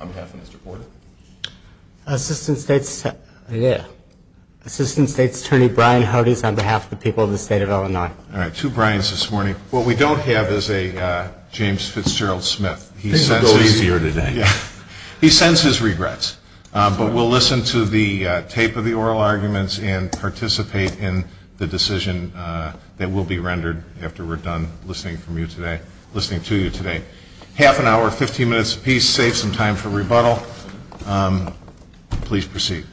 on behalf of Mr. Porter. Assistant State's Attorney Brian Hodes on behalf of the people of the state of Illinois. Alright, two Brian's this morning. What we don't have is a James Fitzgerald Smith. Things will go easier today. He sends his regrets, but we'll listen to the tape of the oral arguments and participate in the decision that will be rendered after we're done listening to you today. Half an hour, 15 minutes apiece, save some time for rebuttal. Please proceed.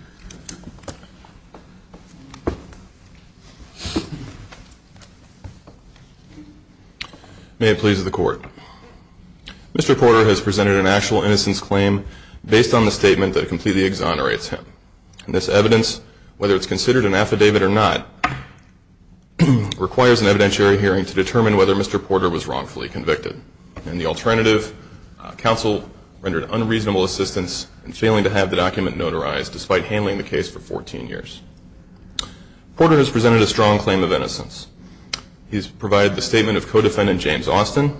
May it please the court. Mr. Porter has presented an actual innocence claim based on the statement that completely exonerates him. And this evidence, whether it's considered an affidavit or not, requires an evidentiary hearing to determine whether Mr. Porter was wrongfully convicted. In the alternative, counsel rendered unreasonable assistance in failing to have the document notarized despite handling the case for 14 years. Porter has presented a strong claim of innocence. He's provided the statement of co-defendant James Austin,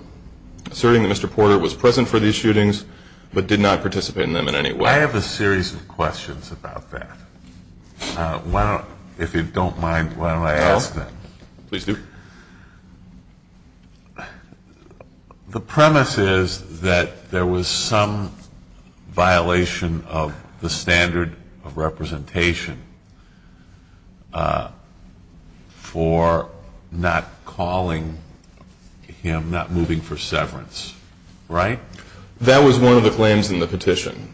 asserting that Mr. Porter was present for these shootings, but did not participate in them in any way. I have a series of questions about that. If you don't mind, why don't I ask them? Please do. The premise is that there was some violation of the standard of representation for not calling him, not moving for severance, right? That was one of the claims in the petition.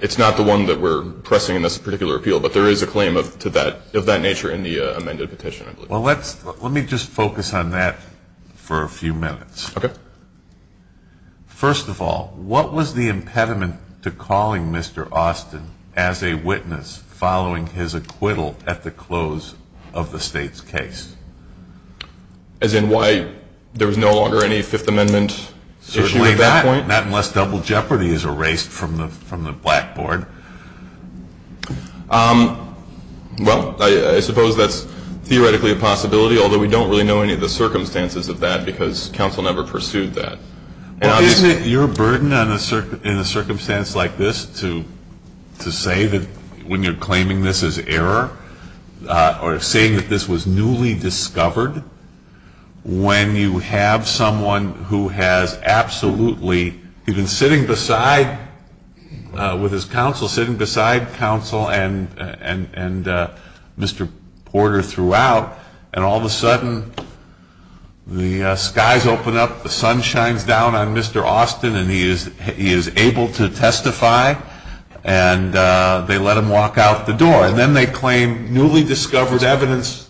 It's not the one that we're pressing in this particular appeal, but there is a claim of that nature in the amended petition, I believe. Well, let me just focus on that for a few minutes. Okay. First of all, what was the impediment to calling Mr. Austin as a witness following his acquittal at the close of the state's case? As in why there was no longer any Fifth Amendment issue at that point? Not unless double jeopardy is erased from the blackboard. Well, I suppose that's theoretically a possibility, although we don't really know any of the circumstances of that because counsel never pursued that. Isn't it your burden in a circumstance like this to say that when you're claiming this is error, or saying that this was newly discovered, when you have someone who has absolutely been sitting beside with his counsel, sitting beside counsel and Mr. Porter throughout, and all of a sudden the skies open up, the sun shines down on Mr. Austin, and he is able to testify, and they let him walk out the door. And then they claim newly discovered evidence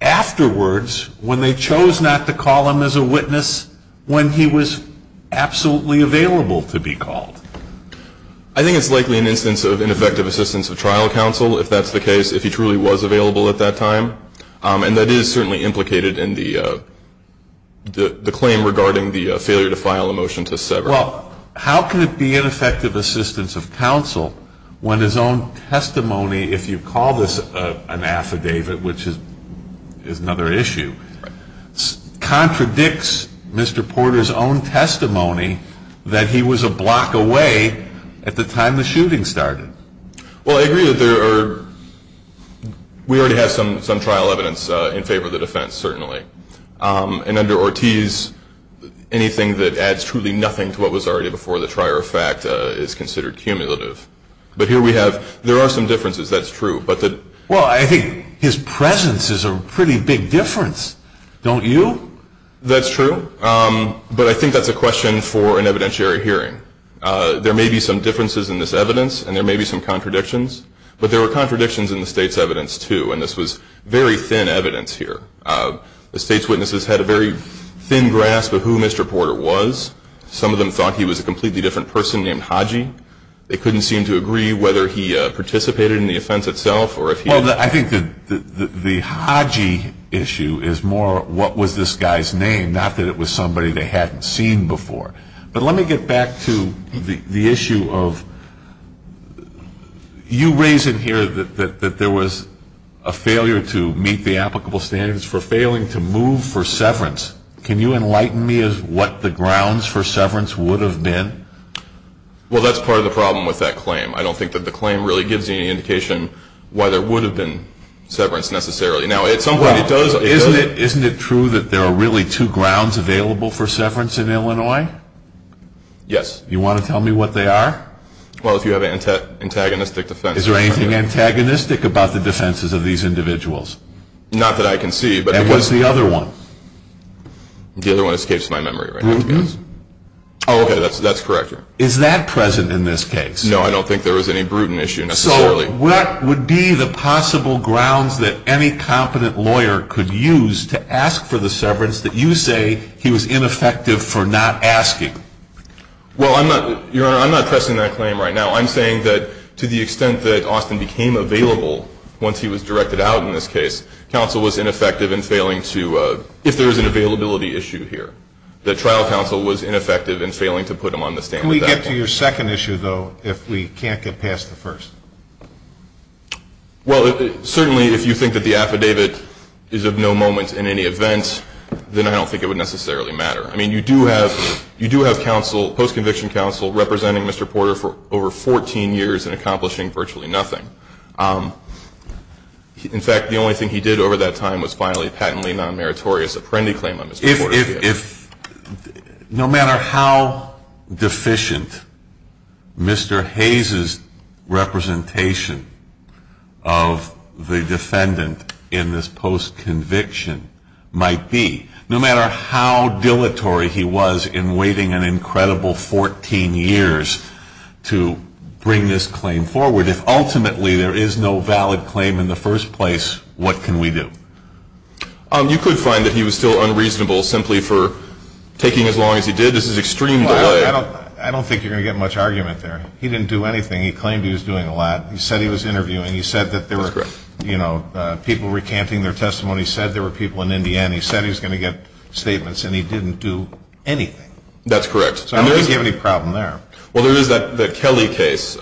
afterwards when they chose not to call him as a witness when he was absolutely available to be called. I think it's likely an instance of ineffective assistance of trial counsel, if that's the case, if he truly was available at that time. And that is certainly implicated in the claim regarding the failure to file a motion to sever. Well, how can it be ineffective assistance of counsel when his own testimony, if you call this an affidavit, which is another issue, contradicts Mr. Porter's own testimony that he was a block away at the time the shooting started? Well, I agree that we already have some trial evidence in favor of the defense, certainly. And under Ortiz, anything that adds truly or in fact is considered cumulative. But here we have, there are some differences, that's true. Well, I think his presence is a pretty big difference, don't you? That's true. But I think that's a question for an evidentiary hearing. There may be some differences in this evidence, and there may be some contradictions. But there were contradictions in the state's evidence, too, and this was very thin evidence here. The state's witnesses had a very thin grasp of who Mr. Porter was. Some of them thought he was a completely different person named Haji. They couldn't seem to agree whether he participated in the offense itself, or if he... Well, I think the Haji issue is more what was this guy's name, not that it was somebody they hadn't seen before. But let me get back to the issue of, you raise in here that there was a failure to meet the applicable standards for failing to move for severance. Can you enlighten me of what the grounds for severance would have been? Well, that's part of the problem with that claim. I don't think that the claim really gives you any indication why there would have been severance, necessarily. Now, at some point it does... Isn't it true that there are really two grounds available for severance in Illinois? Yes. You want to tell me what they are? Well, if you have antagonistic defense... Is there anything antagonistic about the defenses of these individuals? Not that I can see, but... And what's the other one? The other one escapes my memory right now. Brutal? Oh, okay, that's correct. Is that present in this case? No, I don't think there was any brutal issue, necessarily. So, what would be the possible grounds that any competent lawyer could use to ask for the severance that you say he was ineffective for not asking? Well, Your Honor, I'm not pressing that claim right now. I'm saying that to the extent that Austin became available once he was directed out in this case, counsel was ineffective in failing to... If there is an availability issue here, that trial counsel was ineffective in failing to put him on the stand... Can we get to your second issue, though, if we can't get past the first? Well, certainly if you think that the affidavit is of no moment in any event, then I don't think it would necessarily matter. I mean, you do have counsel, post-conviction counsel, representing Mr. Porter for over 14 years and accomplishing virtually nothing. In fact, the only thing he did over that time was finally a patently non-meritorious apprendee claim on Mr. Porter's case. No matter how deficient Mr. Hayes' representation of the defendant in this post-conviction might be, no matter how dilatory he was in waiting an incredible 14 years to bring this claim forward, if ultimately there is no valid claim in the first place, what can we do? You could find that he was still unreasonable simply for taking as long as he did. This is extreme delay. I don't think you're going to get much argument there. He didn't do anything. He claimed he was doing a lot. He said he was interviewing. He said that there were people recanting their testimony. He said there were people in Indiana. He said he was going to get statements, and he didn't do anything. That's correct. So I don't think you have any problem there. Well, there is that Kelly case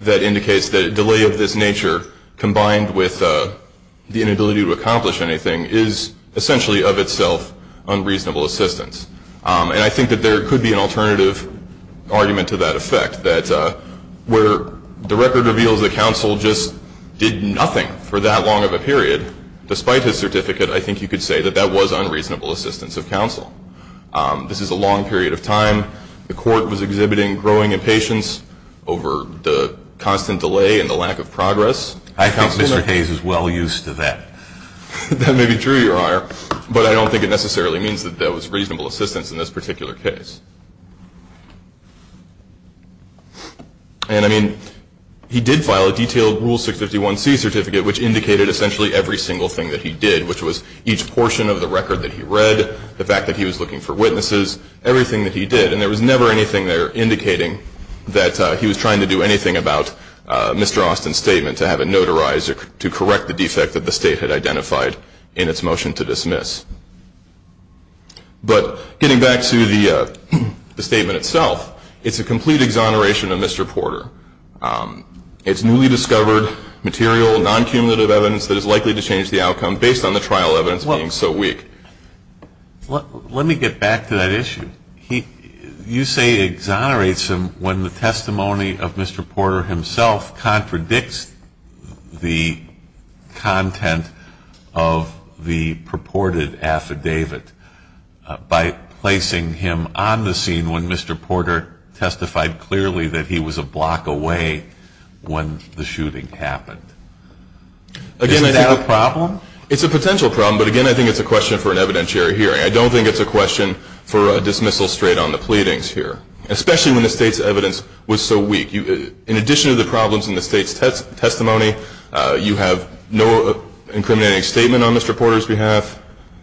that indicates that a delay of this nature combined with the inability to accomplish anything is essentially of itself unreasonable assistance. And I think that there could be an alternative argument to that effect, that where the record reveals that counsel just did nothing for that long of a period, despite his certificate, I think you could say that that was unreasonable assistance of counsel. This is a long period of time. The court was exhibiting growing impatience over the constant delay and the lack of progress. I think Mr. Hayes is well aware of that. He's well used to that. That may be true, Your Honor, but I don't think it necessarily means that that was reasonable assistance in this particular case. And I mean, he did file a detailed Rule 651C certificate which indicated essentially every single thing that he did, which was each portion of the record that he read, the fact that he was looking for witnesses, everything that he did. And there was never anything there indicating that he was trying to do anything about Mr. Austin's statement to have it notarized to correct the defect that the State had identified in its motion to dismiss. But getting back to the statement itself, it's a complete exoneration of Mr. Porter. It's newly discovered material, non-cumulative evidence that is likely to change the outcome based on the trial evidence being so weak. Let me get back to that issue. You say it exonerates him when the testimony of Mr. Porter himself contradicts the content of the purported affidavit by placing him on the scene when Mr. Porter testified clearly that he was a block away when the shooting happened. Again, I think it's a question for an evidentiary hearing. I don't think it's a question for a dismissal straight on the pleadings here, especially when the State's evidence was so weak. In addition to the problems in the State's testimony, you have no incriminating statement on Mr. Porter's behalf.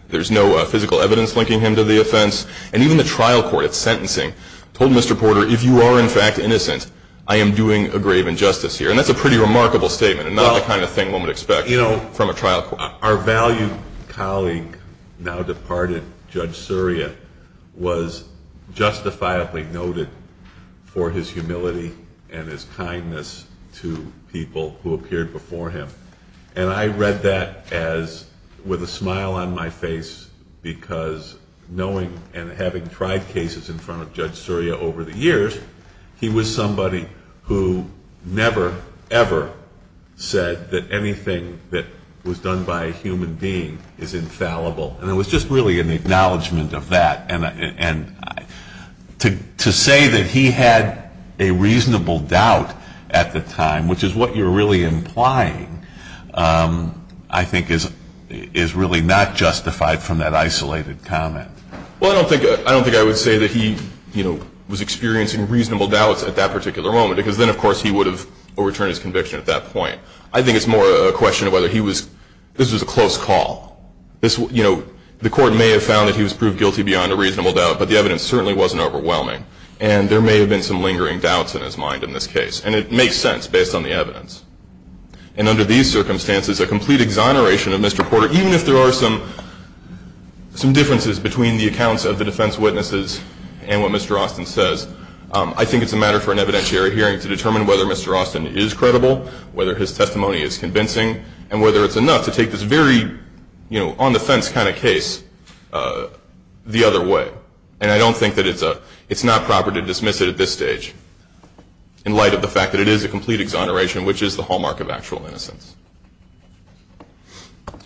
There's no physical evidence linking him to the offense. And even the trial court at sentencing told Mr. Porter, if you are in fact innocent, I am doing a grave injustice here. And that's a pretty remarkable statement and not the kind of thing one would expect from a trial court. Our valued colleague, now departed, Judge Surya, was justifiably noted for his humility and his kindness to people who appeared before him. And I read that with a smile on my face because knowing and having tried cases in front of Judge Surya over the years, he was somebody who never, ever said that anything that was done by a human being is infallible. And it was just really an acknowledgment of that. And to say that he had a reasonable doubt at the time, which is what you're really implying, I think is really not justified from that isolated comment. Well, I don't think I would say that he was experiencing reasonable doubts at that particular moment because then, of course, he would have overturned his conviction at that point. I think it's more a question of whether he was, this was a close call. The court may have found that he was proved guilty beyond a reasonable doubt, but the evidence certainly wasn't defined in this case. And it makes sense based on the evidence. And under these circumstances, a complete exoneration of Mr. Porter, even if there are some differences between the accounts of the defense witnesses and what Mr. Austin says, I think it's a matter for an evidentiary hearing to determine whether Mr. Austin is credible, whether his testimony is convincing, and whether it's enough to take this very on-the-fence kind of case the other way. And I don't think that it's not proper to dismiss it at this point in light of the fact that it is a complete exoneration, which is the hallmark of actual innocence.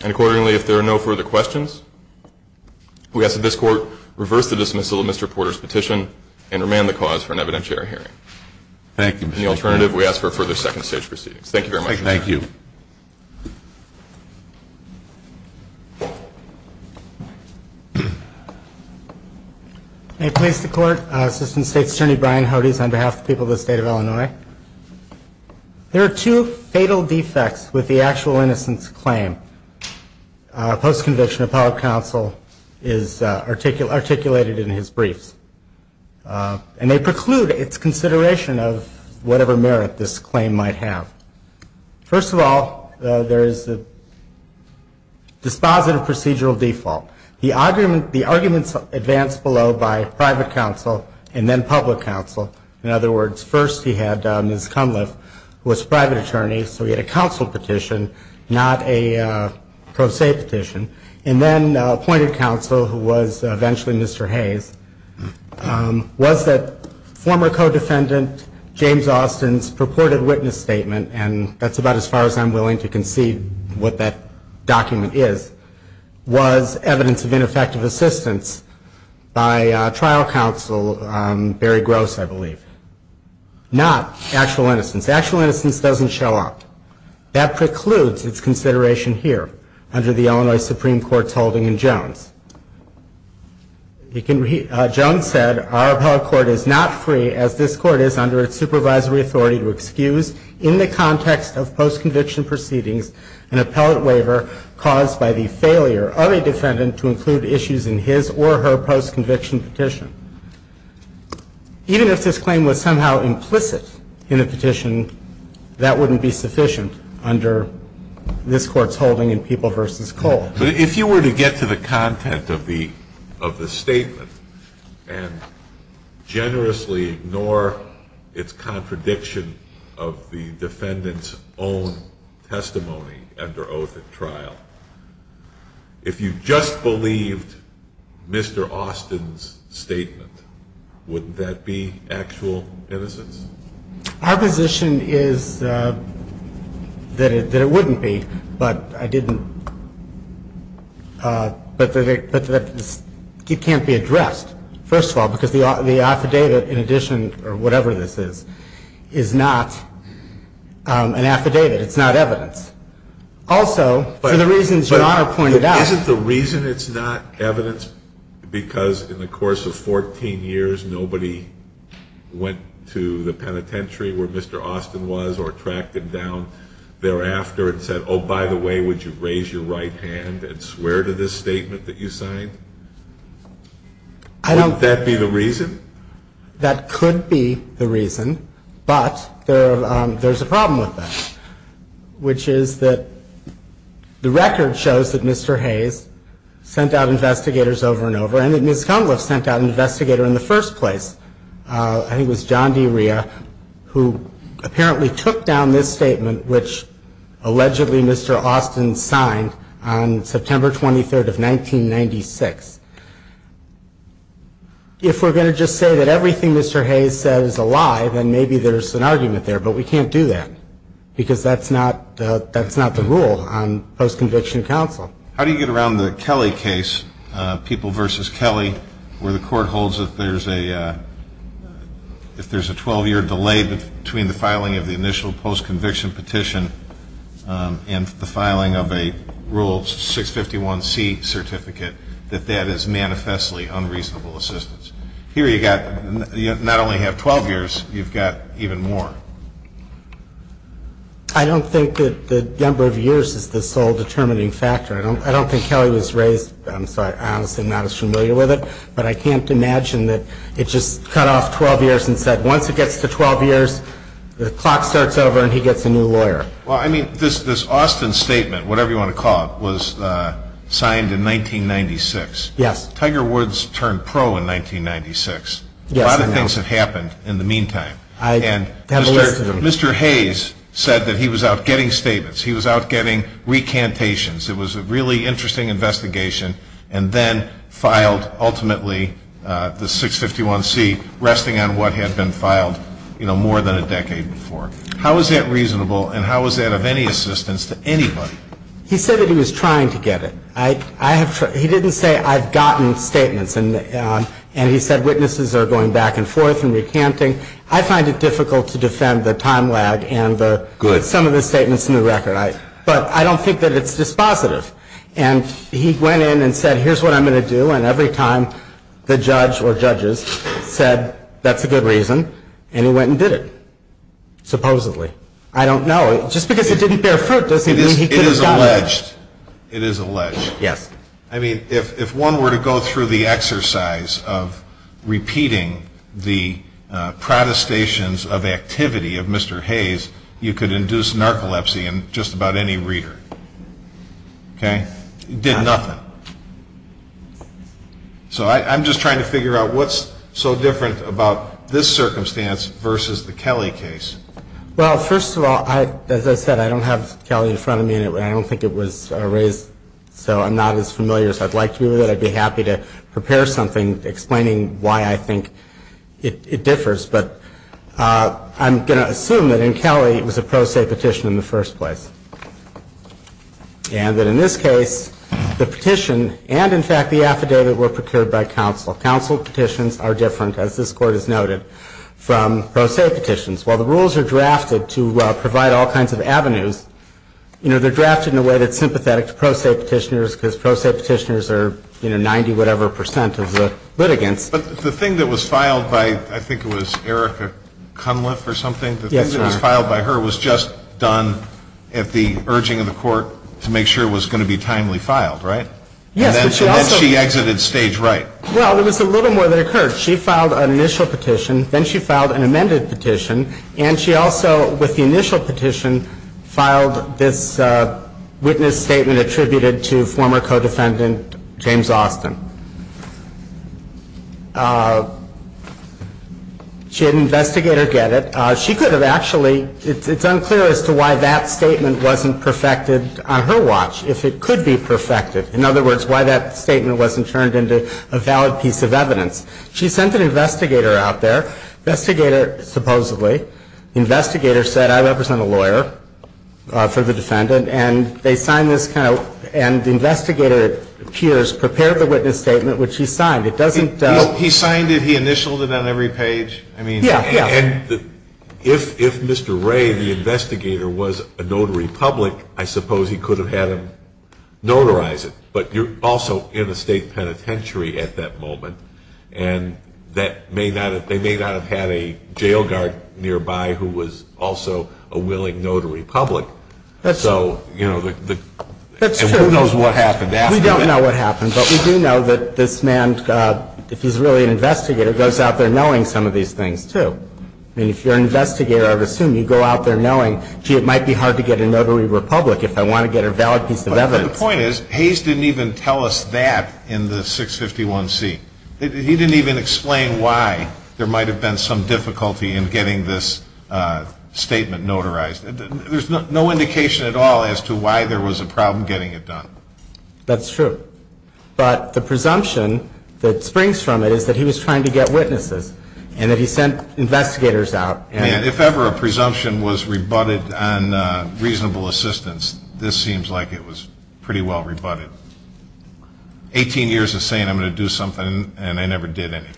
And accordingly, if there are no further questions, we ask that this Court reverse the dismissal of Mr. Porter's petition and remand the cause for an evidentiary hearing. Thank you, Mr. Chairman. In the alternative, we ask for further second-stage proceedings. Thank you very much, Mr. Chairman. Thank you. May it please the Court, Assistant State's Attorney Brian Hodes, on behalf of the people of the State of Illinois. There are two fatal defects with the actual innocence claim, post-conviction of public counsel, is articulated in his briefs. And they preclude its consideration of whatever merit this claim might have. First of all, there is a dispositive procedural default. The arguments advanced below by private counsel and then public counsel, in other words, first he had Ms. Cunliffe, who was private attorney, so he had a counsel petition, not a pro se petition, and then appointed counsel who was eventually Mr. Hayes, was that former co-defendant James Austin's purported witness statement, and that's about as far as I'm willing to concede what that document is, was evidence of ineffective assistance by trial counsel, Barry Gross, I believe. Not actual innocence. Actual innocence doesn't show up. That precludes its consideration here under the Illinois Supreme Court's holding in Jones. Jones said, our appellate court is not free, as this court is under its supervisory authority to excuse in the context of post-conviction proceedings an appellate waiver caused by the failure of a defendant to include issues in his or her post-conviction petition. Even if this claim was somehow implicit in the petition, that wouldn't be sufficient under this Court's holding in People v. Cole. But if you were to get to the content of the statement and generously ignore its contradiction of the defendant's own testimony under oath at trial, if you just believed Mr. Austin's statement, wouldn't that be actual innocence? Our position is that it wouldn't be, but it can't be addressed, first of all, because the affidavit, in addition, or whatever this is, is not an affidavit. It's not evidence. Also, for the reasons Your Honor pointed out But isn't the reason it's not evidence because in the course of 14 years, nobody went to the penitentiary where Mr. Austin was or tracked him down thereafter and said, oh, by the way, would you raise your right hand and swear to this statement that you signed? Wouldn't that be the reason? That could be the reason, but there's a problem with that, which is that the record shows that Mr. Hayes sent out investigators over and over and that Ms. Cunliffe sent out an investigator in the first place. I think it was John D. Rhea who apparently took down this statement, which allegedly Mr. Austin signed on September 23rd of 1996. If we're going to just say that everything Mr. Hayes said is a lie, then maybe there's an argument there, but we can't do that because that's not the rule on post-conviction counsel. How do you get around the Kelly case, People vs. Kelly, where the court holds that if there's a 12-year delay between the filing of the initial post-conviction petition and the filing of a Rule 651C certificate, that that is manifestly unreasonable assistance? Here you not only have 12 years, you've got even more. I don't think that the number of years is the sole determining factor. I don't think Kelly was raised, I'm sorry, I'm honestly not as familiar with it, but I can't imagine that it just cut off 12 years and said, once it gets to 12 years, the clock starts over and he gets a new lawyer. Well, I mean, this Austin statement, whatever you want to call it, was signed in 1996. Tiger Woods turned pro in 1996. Yes, I know. A lot of things have happened in the meantime. I have a list of them. And Mr. Hayes said that he was out getting statements. He was out getting recantations. It was a really interesting investigation, and then filed ultimately the 651C, resting on what had been filed, you know, more than a decade before. How is that reasonable and how is that of any assistance to anybody? He said that he was trying to get it. He didn't say I've gotten statements and he said witnesses are going back and forth and recanting. I find it difficult to defend the time lag and some of the statements in the record, but I don't think that it's dispositive. And he went in and said, here's what I'm going to do, and every time the judge or judges said that's a good reason, and he went and did it, supposedly. I don't know. Just because it didn't bear fruit doesn't mean he could have done it. It is alleged. Yes. I mean, if one were to go through the exercise of repeating the protestations of activity of Mr. Hayes, you could induce narcolepsy in just about any reader. Okay? He did nothing. So I'm just trying to figure out what's so different about this circumstance versus the Kelly case. Well, first of all, as I said, I don't have Kelly in front of me, and I don't think it was raised, so I'm not as familiar as I'd like to be with it. I'd be happy to prepare something explaining why I think it differs, but I'm going to assume that in Kelly it was a pro se petition in the first place. And that in this case, the petition and, in fact, the affidavit were procured by counsel. Counsel petitions are different, as this Court has noted, from pro se petitions. While the pro se petitioners are, you know, 90-whatever percent of the litigants. But the thing that was filed by, I think it was Erica Cunliffe or something? Yes, sir. The thing that was filed by her was just done at the urging of the Court to make sure it was going to be timely filed, right? Yes, but she also – And then she exited stage right. Well, there was a little more that occurred. She filed an initial petition, then she filed an amended petition, and she also, with the initial petition, filed this witness statement attributed to former co-defendant James Austin. She had an investigator get it. She could have actually – it's unclear as to why that statement wasn't perfected on her watch, if it could be perfected. In other words, why that statement wasn't turned into a valid piece of evidence. She sent an investigator out there. Investigator, supposedly. Investigator said, I represent a lawyer for the defendant. And they signed this kind of – and the investigator appears, prepared the witness statement, which he signed. It doesn't – He signed it. He initialed it on every page. I mean – Yeah, yeah. And if Mr. Ray, the investigator, was a notary public, I suppose he could have had him notarize it. But you're also in a state penitentiary at that moment, and that may not have – they may not have had a jail guard nearby who was also a willing notary public. That's true. So, you know, the – That's true. And who knows what happened after that? We don't know what happened. But we do know that this man, if he's really an investigator, goes out there knowing some of these things, too. I mean, if you're an investigator, I would assume you go out there knowing, gee, it might be hard to get a notary public if I want to get a valid piece of evidence. But the point is, Hayes didn't even tell us that in the 651C. He didn't even explain why there might have been some difficulty in getting this statement notarized. There's no indication at all as to why there was a problem getting it done. That's true. But the presumption that springs from it is that he was trying to get witnesses, and that he sent investigators out and – If ever a presumption was rebutted on reasonable assistance, this seems like it was pretty well rebutted. Eighteen years of saying I'm going to do something, and I never did anything.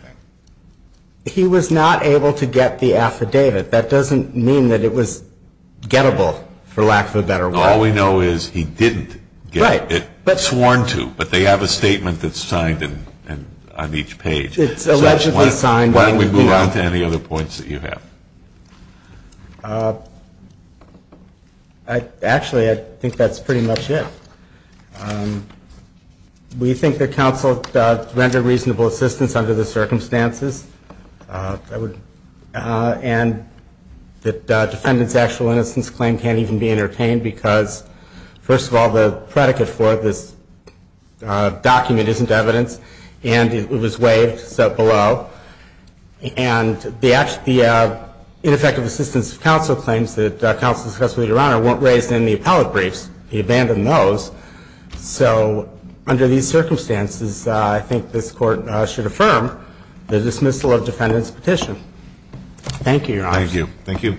He was not able to get the affidavit. That doesn't mean that it was gettable, for lack of a better word. All we know is he didn't get it. Right. Sworn to. But they have a statement that's signed on each page. It's allegedly signed. And why don't we move on to any other points that you have? Actually, I think that's pretty much it. We think that counsel rendered reasonable assistance under the circumstances, and that defendant's actual innocence claim can't even be entertained because, first of all, the predicate for this document isn't evidence, and it was waived, so below. And the ineffective assistance of counsel claims that counsel discussed with Your Honor weren't raised in the appellate briefs. He abandoned those. So under these circumstances, I think this Court should affirm the dismissal of defendant's petition. Thank you, Your Honor. Thank you. Thank you.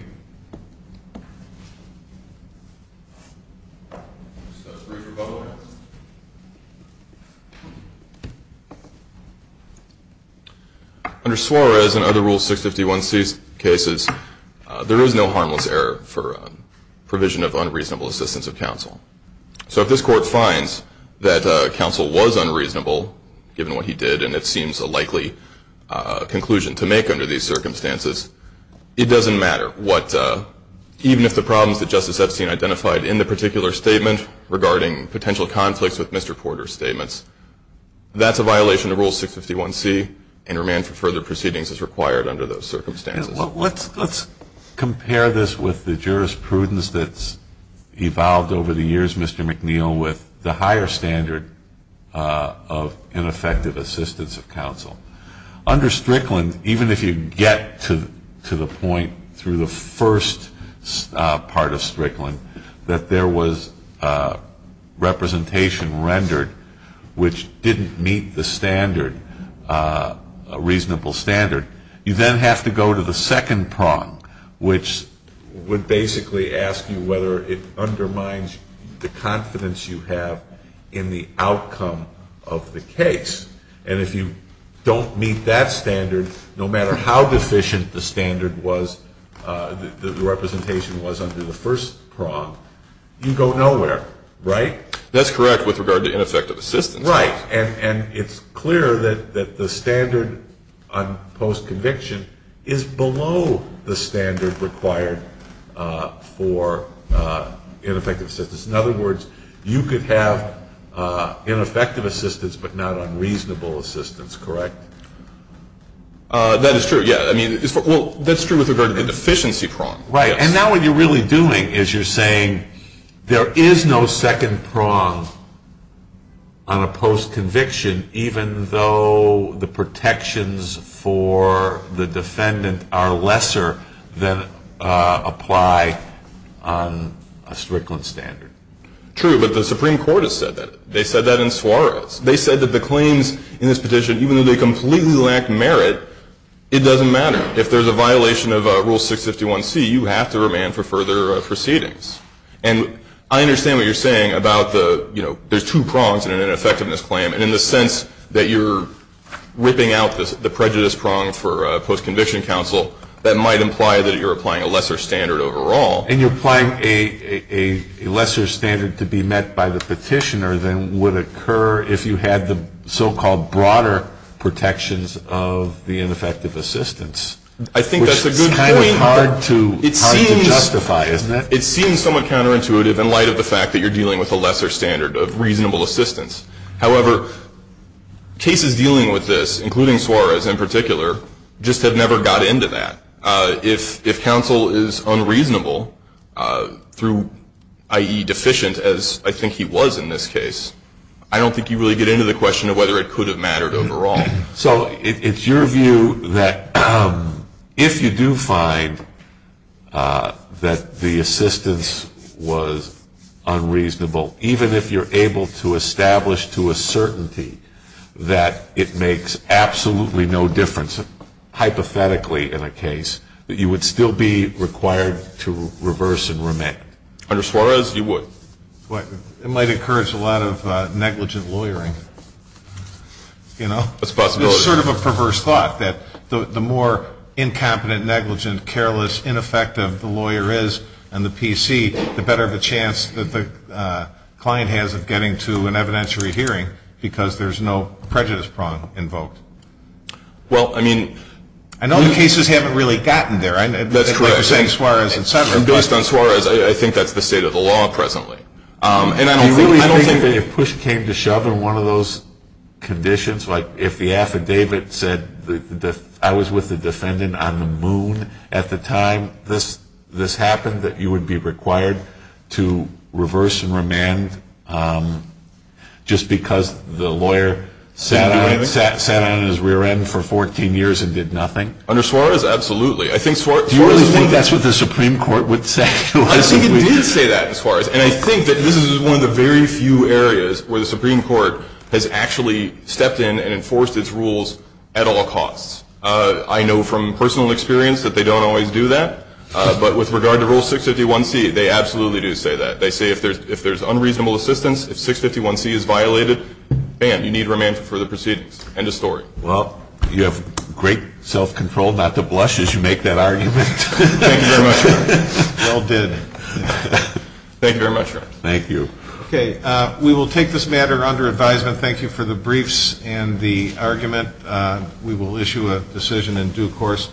Under Suarez and other Rule 651C cases, there is no harmless error for provision of unreasonable assistance of counsel. So if this Court finds that counsel was unreasonable, given what he did, and it seems a likely conclusion to make under these circumstances, it doesn't matter what, even if the problems that Justice Epstein identified in the particular statement regarding potential conflicts with Mr. Porter's statements, that's a violation of Rule 651C and remand for further proceedings is required under those circumstances. Let's compare this with the jurisprudence that's evolved over the years, Mr. McNeil, with the higher standard of ineffective assistance of counsel. Under Strickland, even if you get to the point through the first part of Strickland that there was representation rendered which didn't meet the standard, a reasonable standard, you then have to go to the second prong, which would basically ask you whether it undermines the confidence you have in the How deficient the standard was, the representation was under the first prong, you go nowhere, right? That's correct with regard to ineffective assistance. Right. And it's clear that the standard on post-conviction is below the standard required for ineffective assistance. In other words, you could have ineffective assistance, but not unreasonable assistance, correct? That is true, yeah. I mean, well, that's true with regard to the deficiency prong. Right. And now what you're really doing is you're saying there is no second prong on a post-conviction even though the protections for the defendant are lesser than apply on a Strickland standard. True, but the Supreme Court has said that. They said that in Suarez. They said that the merit, it doesn't matter. If there's a violation of Rule 651C, you have to remand for further proceedings. And I understand what you're saying about the, you know, there's two prongs in an ineffectiveness claim, and in the sense that you're ripping out the prejudice prong for post-conviction counsel, that might imply that you're applying a lesser standard overall. And you're applying a lesser standard to be met by the petitioner than would occur if you had the so-called broader protections of the ineffective assistance. I think that's a good point. Which is kind of hard to justify, isn't it? It seems somewhat counterintuitive in light of the fact that you're dealing with a lesser standard of reasonable assistance. However, cases dealing with this, including Suarez in particular, just have never got into that. If counsel is unreasonable through, i.e., if you're able to establish to a certainty that it makes absolutely no difference, hypothetically in a case, that you would still be required to reverse and remand. Under Suarez, you would. It might encourage a lot of negligent lawyering. I think that's a good point. It's sort of a perverse thought that the more incompetent, negligent, careless, ineffective the lawyer is on the PC, the better of a chance that the client has of getting to an evidentiary hearing because there's no prejudice prong invoked. I know the cases haven't really gotten there. That's correct. Like you're saying, Suarez and several others. Based on Suarez, I think that's the state of the law presently. I don't think that if push came to shove in one of those conditions, like if the affidavit said I was with the defendant on the moon at the time this happened, that you would be required to reverse and remand just because the lawyer sat on his rear end for 14 years and did nothing. Under Suarez, absolutely. Do you really think that's what the Supreme Court would say? I think it did say that in Suarez. And I think that this is one of the very few areas where the Supreme Court has actually stepped in and enforced its rules at all costs. I know from personal experience that they don't always do that. But with regard to Rule 651C, they absolutely do say that. They say if there's unreasonable assistance, if 651C is violated, bam, you need remand for the proceedings. End of story. Well, you have great self-control. Not the blushes you make that argument. Thank you very much. Well did. Thank you very much. Thank you. Okay. We will take this matter under advisement. Thank you for the briefs and the argument. We will issue a decision in due course.